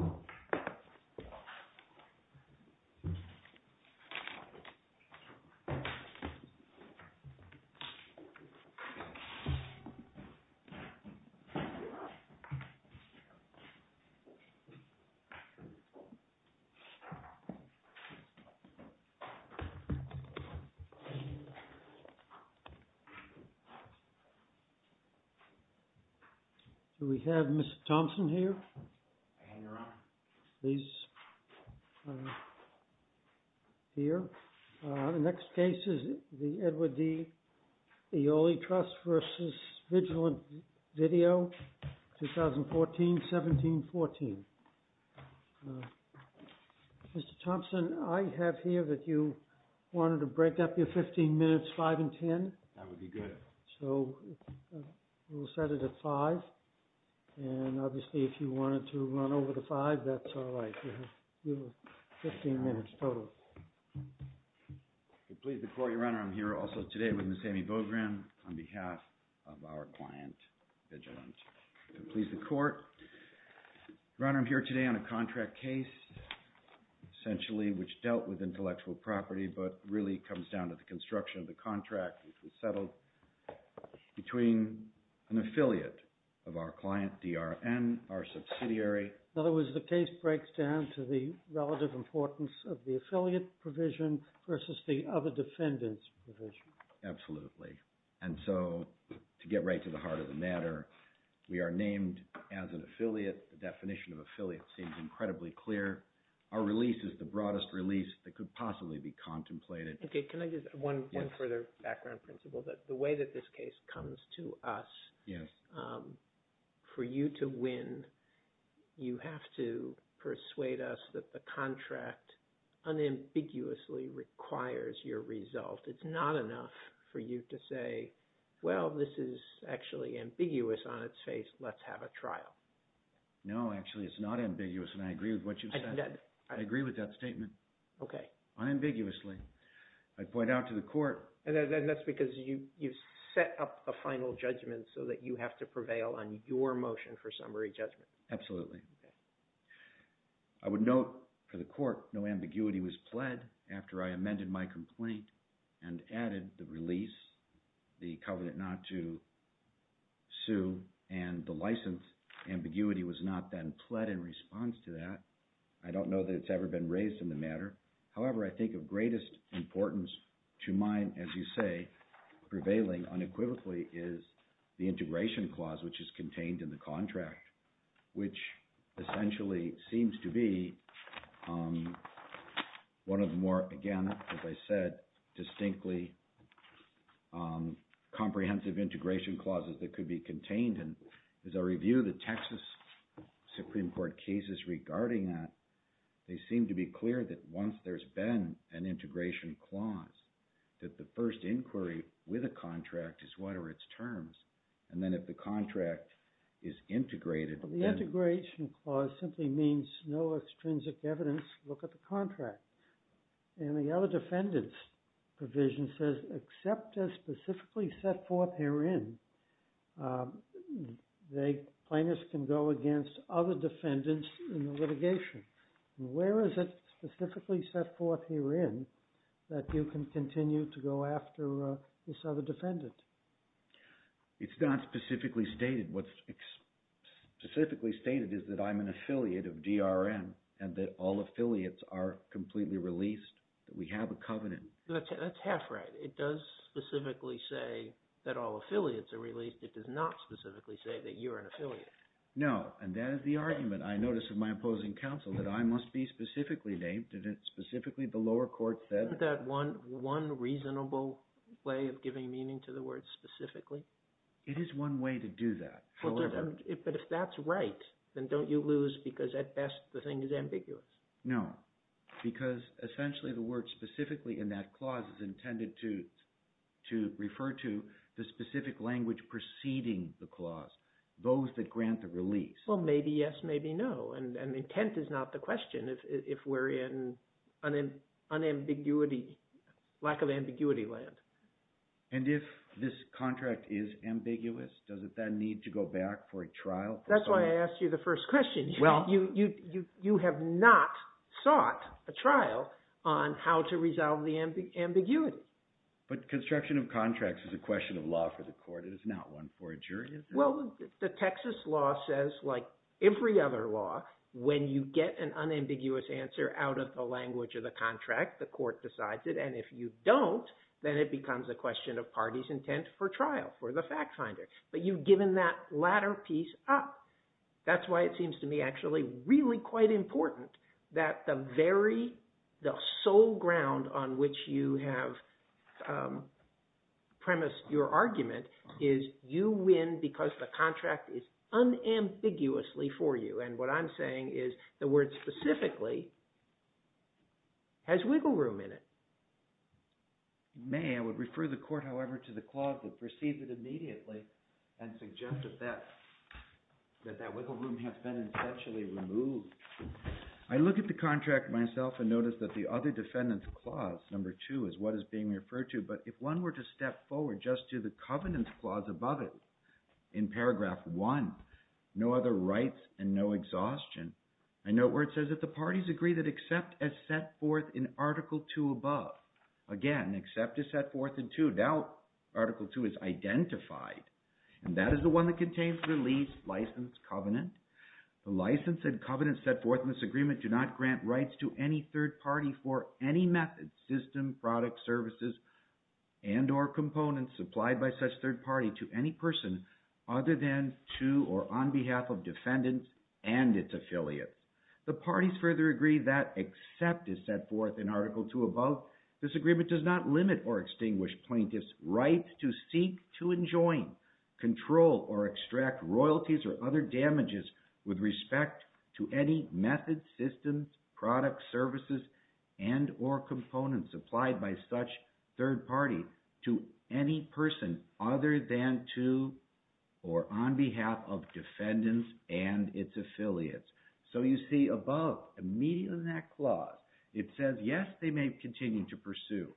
0–1 B – Do we have Mr. Thompson here? – Hang around. – Please. Here. The next case is the Edward D. Aeoli Trust v. Vigilant Video, 2014–17–14. Mr. Thompson, I have here that you wanted to break up your 15 minutes, 5 and 10. – That would be good. – So, we'll set it at 5, and obviously, if you wanted to run over to 5, that's all right. You have 15 minutes total. – Please, the court, your Honor, I'm here also today with Ms. Amy Bogren on behalf of our client, Vigilant. Please, the court, your Honor, I'm here today on a contract case, essentially which dealt with intellectual property, but really comes down to the construction of the contract which was settled between an affiliate of our client, DRN, our subsidiary. – In other words, the case breaks down to the relative importance of the affiliate provision versus the other defendant's provision. – Absolutely. And so, to get right to the heart of the matter, we are named as an affiliate. The definition of affiliate seems incredibly clear. Our release is the broadest release that could possibly be contemplated. – Okay, can I just, one further background principle, that the way that this case comes to us, for you to win, you have to persuade us that the contract unambiguously requires your result. It's not enough for you to say, well, this is actually ambiguous on its face, let's have a trial. – No, actually, it's not ambiguous, and I agree with what you said. I agree with that statement. – Okay. – Unambiguously. I'd point out to the court... – And that's because you've set up a final judgment so that you have to prevail on your motion for summary judgment. – Absolutely. I would note for the court, no ambiguity was pled after I amended my complaint and added the release, the covenant not to sue, and the license ambiguity was not then pled in response to that. I don't know that it's ever been raised in the matter. However, I think of greatest importance to mine, as you say, prevailing unequivocally is the integration clause which is contained in the contract, which essentially seems to be one of the more, again, as I said, distinctly comprehensive integration clauses that could be contained. There's a review of the Texas Supreme Court cases regarding that. They seem to be clear that once there's been an integration clause, that the first inquiry with a contract is what are its terms, and then if the contract is integrated... – The integration clause simply means no extrinsic evidence, look at the contract. And the other defendant's provision says except as specifically set forth herein, plaintiffs can go against other defendants in the litigation. Where is it specifically set forth herein that you can continue to go after this other defendant? – It's not specifically stated. What's specifically stated is that I'm an affiliate of DRM and that all affiliates are completely released, that we have a covenant. – That's half right. It does specifically say that all affiliates are released. It does not specifically say that you're an affiliate. – No, and that is the argument, I notice, of my opposing counsel, that I must be specifically named, and it's specifically the lower court said... – Isn't that one reasonable way of giving meaning to the word specifically? – It is one way to do that, however... – But if that's right, then don't you lose because at best the thing is ambiguous? – No, because essentially the word specifically in that clause is intended to refer to the specific language preceding the clause, those that grant the release. – Well, maybe yes, maybe no, and intent is not the question if we're in an ambiguity, lack of ambiguity land. – And if this contract is ambiguous, does it then need to go back for a trial? – That's why I asked you the first question. You have not sought a trial on how to resolve the ambiguity. – But construction of contracts is a question of law for the court. It is not one for a jury. – Well, the Texas law says, like every other law, when you get an unambiguous answer out of the language of the contract, the court decides it, and if you don't, then it becomes a question of party's intent for trial, for the fact finder. But you've given that latter piece up. That's why it seems to me actually really quite important that the very, the sole ground on which you have premised your argument is you win because the contract is unambiguously for you. And what I'm saying is the word specifically has wiggle room in it. – May I would refer the court, however, to the clause that precedes it immediately and suggest that that that wiggle room has been essentially removed. I look at the contract myself and notice that the other defendant's clause, number two, is what is being referred to, but if one were to step forward just to the covenants clause above it, in paragraph one, no other rights and no exhaustion, I note where it says that the parties agree that except as set forth in article two above. Again, except as set forth in two, now article two is identified, and that is the one that contains the lease license covenant. The license and covenant set forth in this agreement do not grant rights to any third party for any method, system, product, services, and or components supplied by such third party to any person other than to or on behalf of defendants and its affiliates. The parties further agree that except as set forth in article two above, this agreement does not limit or extinguish plaintiff's right to seek to enjoin, control, or extract royalties or other damages with respect to any method, systems, product, services, and or components supplied by such third party to any person other than to or on behalf of defendants and its affiliates. So you see above, immediately in that clause, it says yes, they may continue to pursue,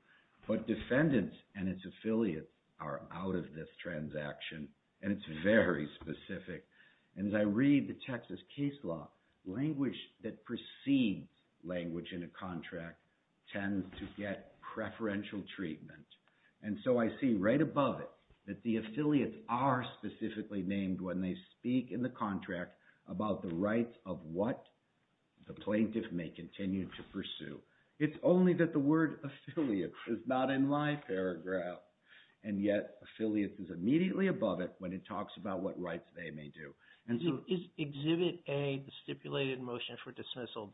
but defendants and its affiliates are out of this transaction, and it's very specific. And as I read the Texas case law, language that precedes language in a contract tends to get preferential treatment. And so I see right above it that the affiliates are specifically named when they speak in the contract about the rights of what the plaintiff may continue to pursue. It's only that the word affiliates is not in my paragraph, and yet affiliates is immediately above it when it talks about what rights they may do. Is exhibit A the stipulated motion for dismissal?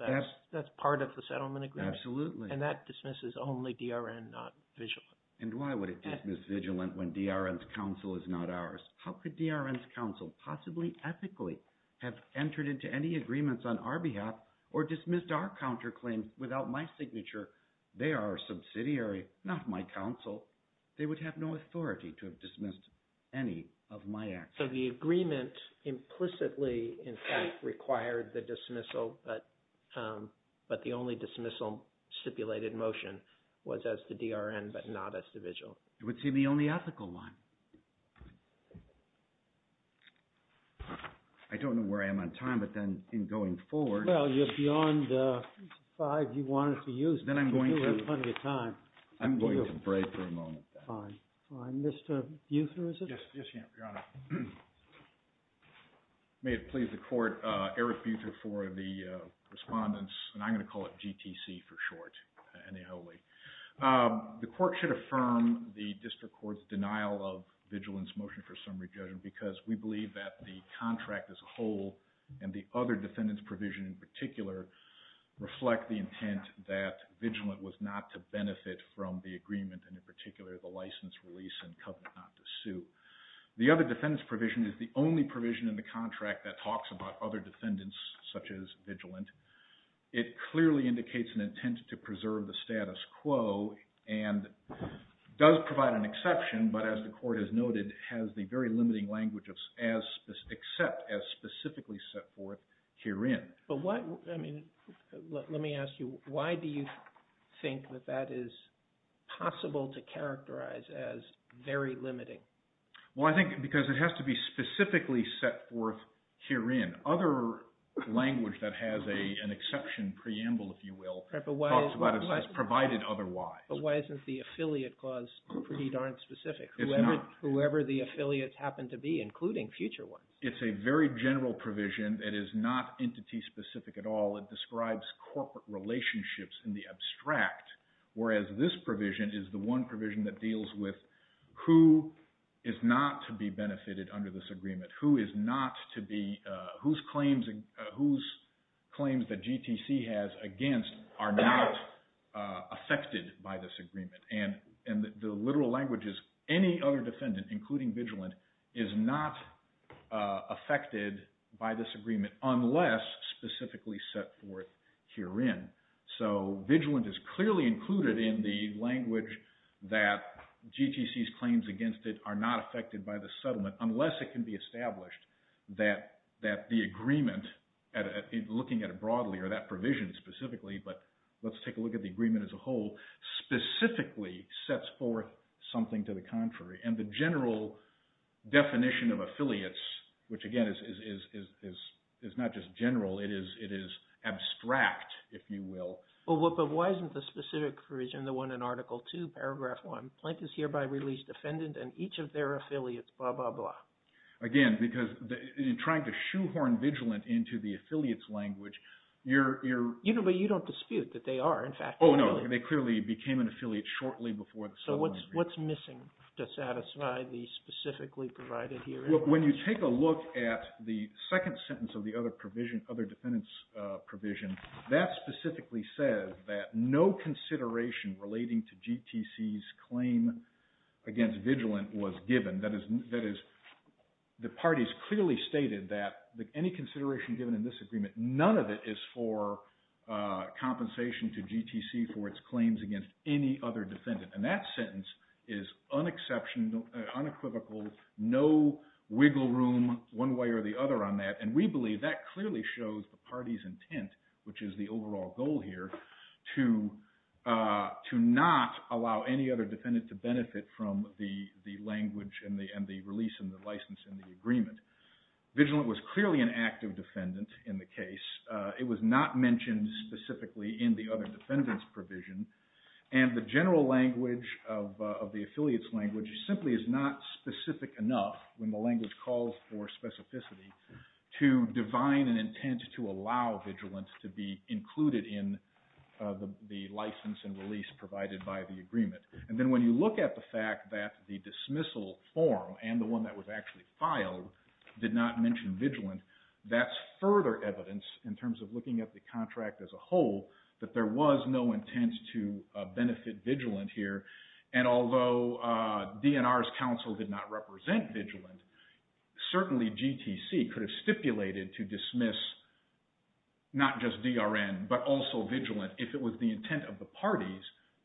That's part of the settlement agreement? Absolutely. And that dismisses only DRN, not VIGILANT. And why would it dismiss VIGILANT when DRN's counsel is not ours? How could DRN's counsel possibly ethically have entered into any agreements on our behalf or dismissed our counterclaims without my signature? They are our subsidiary, not my counsel. They would have no authority to have dismissed any of my actions. So the agreement implicitly, in fact, required the dismissal, but the only dismissal stipulated motion was as to DRN, but not as to VIGILANT. It would seem the only ethical one. I don't know where I am on time, but then in going forward... Well, you're beyond five you wanted to use, but you do have plenty of time. I'm going to break for a moment. Fine. Mr. Buter, is it? Yes, Your Honor. May it please the court, Eric Buter for the respondents, and I'm going to call it GTC for short, and a wholly. The court should affirm the district court's denial of VIGILANT's motion for summary judgment because we believe that the contract as a whole and the other defendant's provision in particular reflect the intent that VIGILANT was not to benefit from the agreement and in particular the license release and covenant not to sue. The other defendant's provision is the only provision in the contract that talks about other defendants such as VIGILANT. It clearly indicates an intent to preserve the status quo and does provide an exception, but as the court has noted it has the very limiting language except as specifically set forth herein. Let me ask you, why do you think that that is possible to characterize as very limiting? Well, I think because it has to be specifically set forth herein. Other language that has an exception preamble, if you will, talks about it as provided otherwise. But why isn't the affiliate clause pretty darn specific? It's not. Whoever the affiliates happen to be, including future ones. It's a very general provision. It is not entity specific at all. It describes corporate relationships in the abstract, whereas this provision is the one provision that deals with who is not to be benefited under this agreement, and the literal language is any other defendant, including VIGILANT, is not affected by this agreement unless specifically set forth herein. So VIGILANT is clearly included in the language that GTC's claims against it are not affected by the settlement unless it can be established that the agreement, looking at it broadly or that provision specifically, but let's take a look at the agreement as a whole, specifically sets forth something to the contrary. And the general definition of affiliates, which again is not just general, it is abstract, if you will. But why isn't the specific provision, the one in Article 2, Paragraph 1, plaintiffs hereby release defendant and each of their affiliates, blah, blah, blah? Again, because in trying to shoehorn VIGILANT into the affiliates language, you're... Oh, no, they clearly became an affiliate shortly before the settlement agreement. So what's missing to satisfy the specifically provided herein? When you take a look at the second sentence of the other provision, other defendant's provision, that specifically says that no consideration relating to GTC's claim against VIGILANT was given. That is, the parties clearly stated that any consideration given in this agreement, none of it is for compensation to GTC for its claims against any other defendant. And that sentence is unequivocal, no wiggle room one way or the other on that. And we believe that clearly shows the party's intent, which is the overall goal here, to not allow any other defendant to benefit from the language VIGILANT was clearly an active defendant in the case. It was not mentioned specifically in the other defendant's provision. And the general language of the affiliates language simply is not specific enough, when the language calls for specificity, to divine an intent to allow VIGILANT to be included in the license and release provided by the agreement. And then when you look at the fact that the dismissal form and the one that was actually filed did not mention VIGILANT, that's further evidence in terms of looking at the contract as a whole that there was no intent to benefit VIGILANT here. And although DNR's counsel did not represent VIGILANT, certainly GTC could have stipulated to dismiss not just DRN, but also VIGILANT, if it was the intent of the parties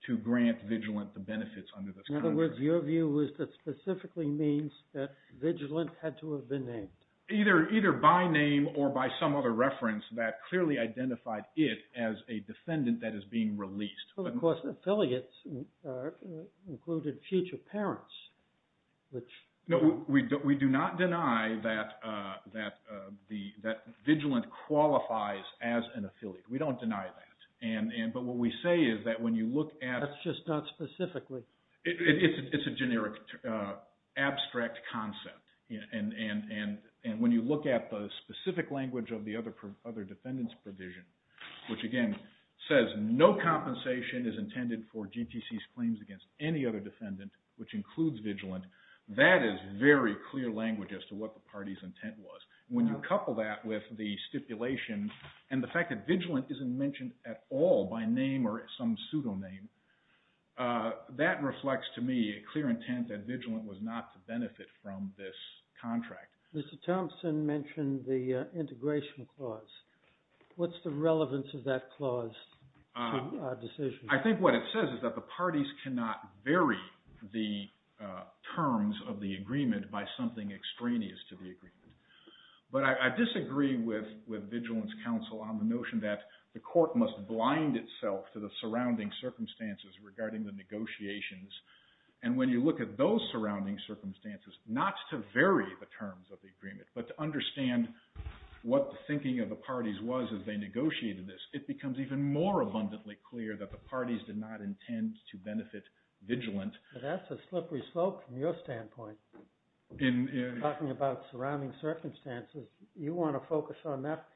to grant VIGILANT the benefits under this contract. In other words, your view was that it specifically means that VIGILANT had to have been named. Either by name or by some other reference that clearly identified it as a defendant that is being released. Of course, affiliates included future parents. No, we do not deny that VIGILANT qualifies as an affiliate. We don't deny that. But what we say is that when you look at... That's just not specifically. It's a generic abstract concept. And when you look at the specific language of the other defendant's provision, which again says no compensation is intended for GTC's claims against any other defendant, which includes VIGILANT, that is very clear language as to what the party's intent was. When you couple that with the stipulation and the fact that VIGILANT isn't mentioned at all by name or some pseudoname, that reflects to me a clear intent that VIGILANT was not to benefit from this contract. Mr. Thompson mentioned the integration clause. What's the relevance of that clause to our decision? I think what it says is that the parties cannot vary the terms of the agreement by something extraneous to the agreement. But I disagree with VIGILANT's counsel on the notion that the court must blind itself to the surrounding circumstances regarding the negotiations. And when you look at those surrounding circumstances, not to vary the terms of the agreement, but to understand what the thinking of the parties was as they negotiated this, it becomes even more abundantly clear that the parties did not intend to benefit VIGILANT. That's a slippery slope from your standpoint. In talking about surrounding circumstances, you want to focus on that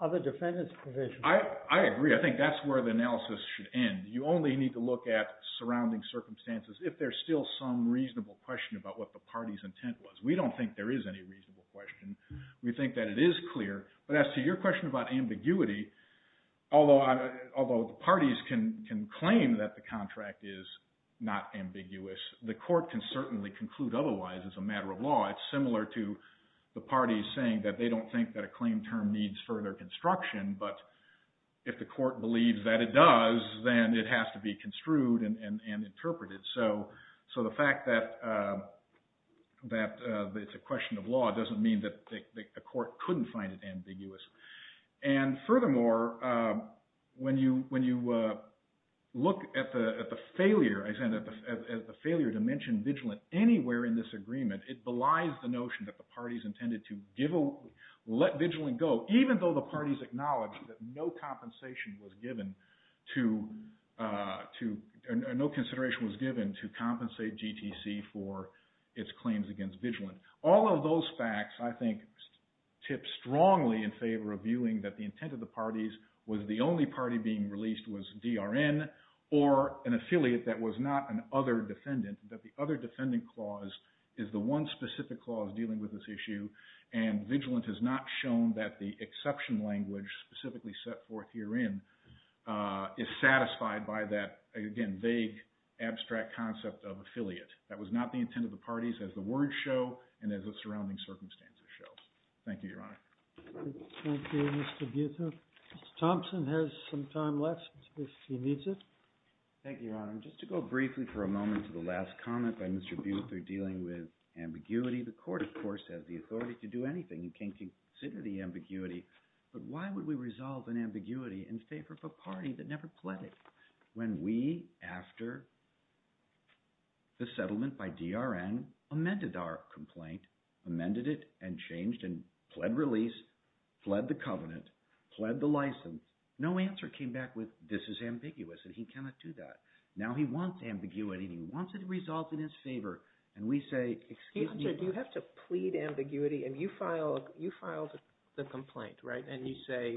other defendant's provision. I agree. I think that's where the analysis should end. You only need to look at surrounding circumstances if there's still some reasonable question about what the party's intent was. We don't think there is any reasonable question. We think that it is clear. But as to your question about ambiguity, although the parties can claim that the contract is not ambiguous, the court can certainly conclude otherwise as a matter of law. It's similar to the parties saying that they don't think that a claim term needs further construction, but if the court believes that it does, then it has to be construed and interpreted. So the fact that it's a question of law doesn't mean that a court couldn't find it ambiguous. And furthermore, when you look at the failure, I said, at the failure to mention VIGILANT anywhere in this agreement, it belies the notion that the parties intended to let VIGILANT go, even though the parties acknowledged that no compensation was given to compensate GTC for its claims against VIGILANT. All of those facts, I think, tip strongly in favor of viewing that the intent of the parties was the only party being released was DRN or an affiliate that was not an other defendant, that the other defendant clause is the one specific clause dealing with this issue, and VIGILANT has not shown that the exception language specifically set forth herein is satisfied by that, again, vague, abstract concept of affiliate. That was not the intent of the parties as the words show and as the surrounding circumstances show. Thank you, Your Honor. Thank you, Mr. Butha. Mr. Thompson has some time left if he needs it. Thank you, Your Honor. Just to go briefly for a moment to the last comment by Mr. Butha dealing with ambiguity, the court, of course, has the authority to do anything. You can't consider the ambiguity, but why would we resolve an ambiguity in favor of a party that never pled it? When we, after the settlement by DRN, amended our complaint, amended it and changed and pled release, pled the covenant, pled the license, no answer came back with this is ambiguous and he cannot do that. Now he wants ambiguity and he wants it to resolve in his favor, and we say excuse me. You have to plead ambiguity and you filed the complaint, right? And you say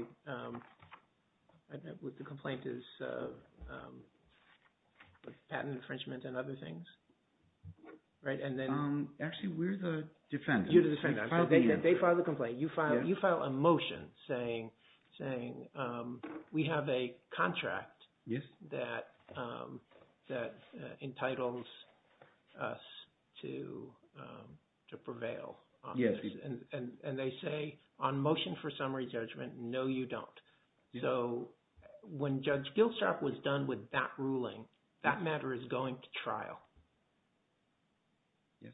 the complaint is patent infringement and other things, right? Actually, we're the defense. You're the defense. They filed the complaint. You file a motion saying we have a contract that entitles us to prevail. And they say on motion for summary judgment, no, you don't. So when Judge Gilstrap was done with that ruling, that matter is going to trial. Yes.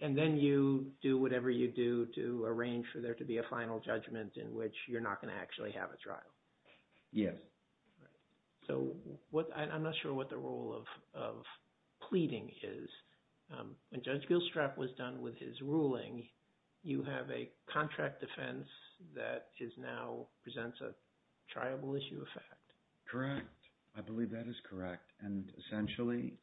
And then you do whatever you do to arrange for there to be a final judgment in which you're not going to actually have a trial. Yes. So I'm not sure what the role of pleading is. When Judge Gilstrap was done with his ruling, you have a contract defense that is now presents a triable issue of fact. Correct. I believe that is correct. And essentially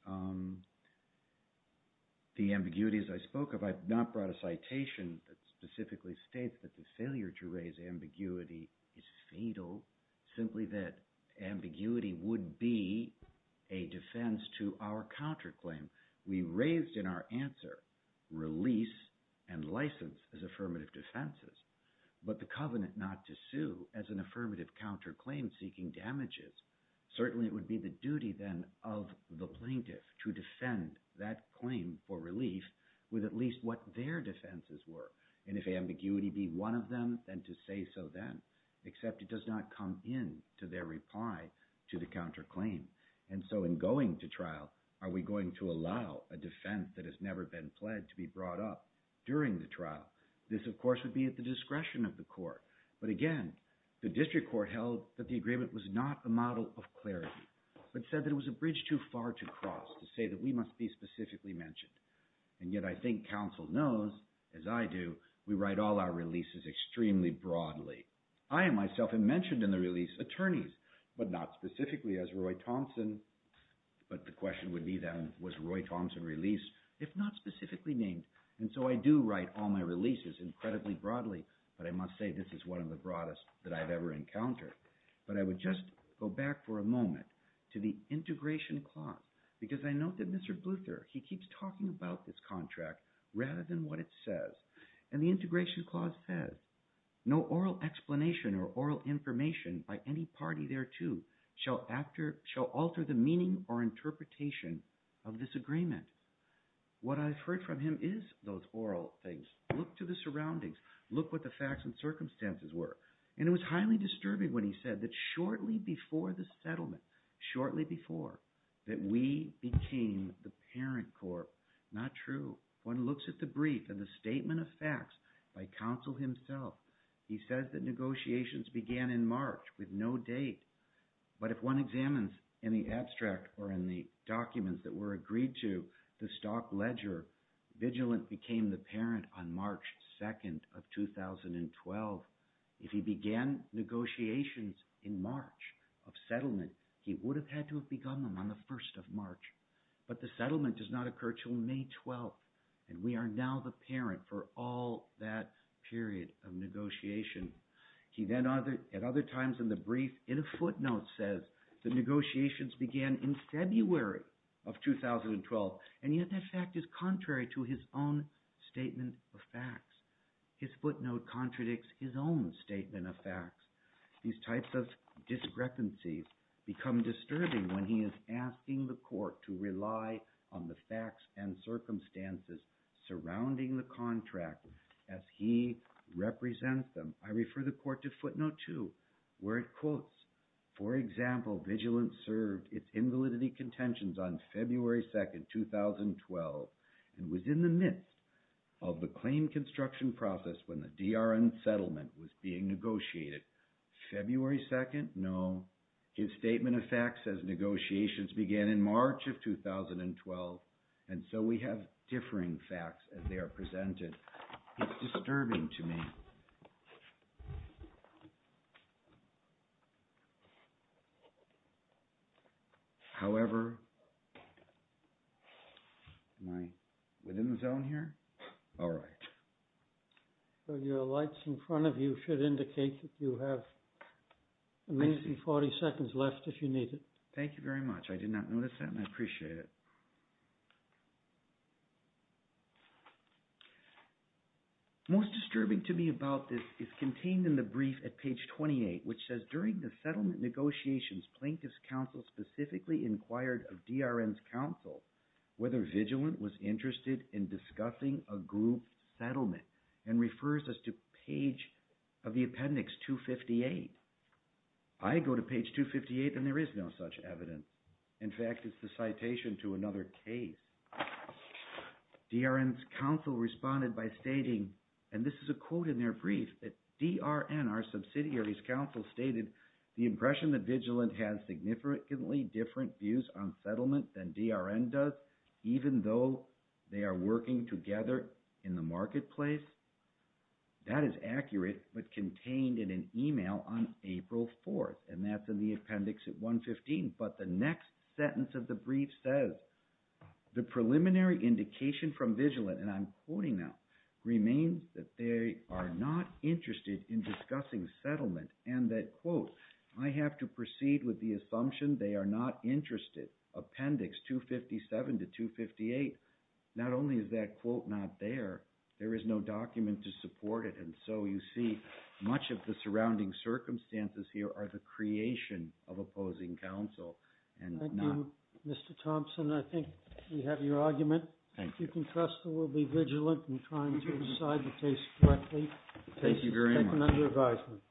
the ambiguities I spoke of, I've not brought a citation that specifically states that the failure to raise ambiguity is fatal, simply that ambiguity would be a defense to our counterclaim. We raised in our answer release and license as affirmative defenses, but the covenant not to sue as an affirmative counterclaim seeking damages. Certainly it would be the duty then of the plaintiff to defend that claim for relief with at least what their defenses were. And if ambiguity be one of them, then to say so then, except it does not come in to their reply to the counterclaim. And so in going to trial, are we going to allow a defense that has never been pledged to be brought up during the trial? This, of course, would be at the discretion of the court. But again, the district court held that the agreement was not a model of clarity, but said that it was a bridge too far to cross to say that we must be specifically mentioned. And yet I think counsel knows, as I do, we write all our releases extremely broadly. I myself have mentioned in the release attorneys, but not specifically as Roy Thompson. But the question would be then, was Roy Thompson released, if not specifically named? And so I do write all my releases incredibly broadly, but I must say this is one of the broadest that I've ever encountered. But I would just go back for a moment to the integration clause because I note that Mr. Bluther, he keeps talking about this contract rather than what it says. And the integration clause says, no oral explanation or oral information by any party thereto shall alter the meaning or interpretation of this agreement. What I've heard from him is those oral things. Look to the surroundings. Look what the facts and circumstances were. And it was highly disturbing when he said that shortly before the settlement, shortly before, that we became the parent court. Not true. One looks at the brief and the statement of facts by counsel himself. He says that negotiations began in March with no date. But if one examines in the abstract or in the documents that were agreed to, the stock ledger, Vigilant became the parent on March 2nd of 2012. If he began negotiations in March of settlement, he would have had to have begun them on the 1st of March. But the settlement does not occur until May 12th, and we are now the parent for all that period of negotiation. He then at other times in the brief in a footnote says the negotiations began in February of 2012. And yet that fact is contrary to his own statement of facts. His footnote contradicts his own statement of facts. These types of discrepancies become disturbing when he is asking the court to rely on the facts and circumstances surrounding the contract as he represents them. I refer the court to footnote 2 where it quotes, for example, Vigilant served its invalidity contentions on February 2nd, 2012, and was in the midst of the claim construction process when the DRN settlement was being negotiated. February 2nd? No. His statement of facts says negotiations began in March of 2012. And so we have differing facts as they are presented. It's disturbing to me. However, am I within the zone here? All right. So your lights in front of you should indicate that you have at least 40 seconds left if you need it. Thank you very much. I did not notice that and I appreciate it. Most disturbing to me about this is contained in the brief at page 28 which says during the settlement negotiations, Plaintiff's counsel specifically inquired of DRN's counsel whether Vigilant was interested in discussing a group settlement and refers us to page of the appendix 258. I go to page 258 and there is no such evidence. In fact, it's the citation to another case. DRN's counsel responded by stating, and this is a quote in their brief, that DRN, our subsidiary's counsel, stated, the impression that Vigilant has significantly different views on settlement than DRN does, even though they are working together in the marketplace. That is accurate but contained in an email on April 4th and that's in the appendix at 115. But the next sentence of the brief says, the preliminary indication from Vigilant, and I'm quoting now, remains that they are not interested in discussing settlement and that, quote, I have to proceed with the assumption they are not interested. Appendix 257 to 258, not only is that quote not there, there is no document to support it. And so you see much of the surrounding circumstances here are the creation of opposing counsel. Thank you, Mr. Thompson. I think we have your argument. Thank you. You can trust that we'll be vigilant in trying to decide the case correctly. Thank you very much. The case is taken under advisement.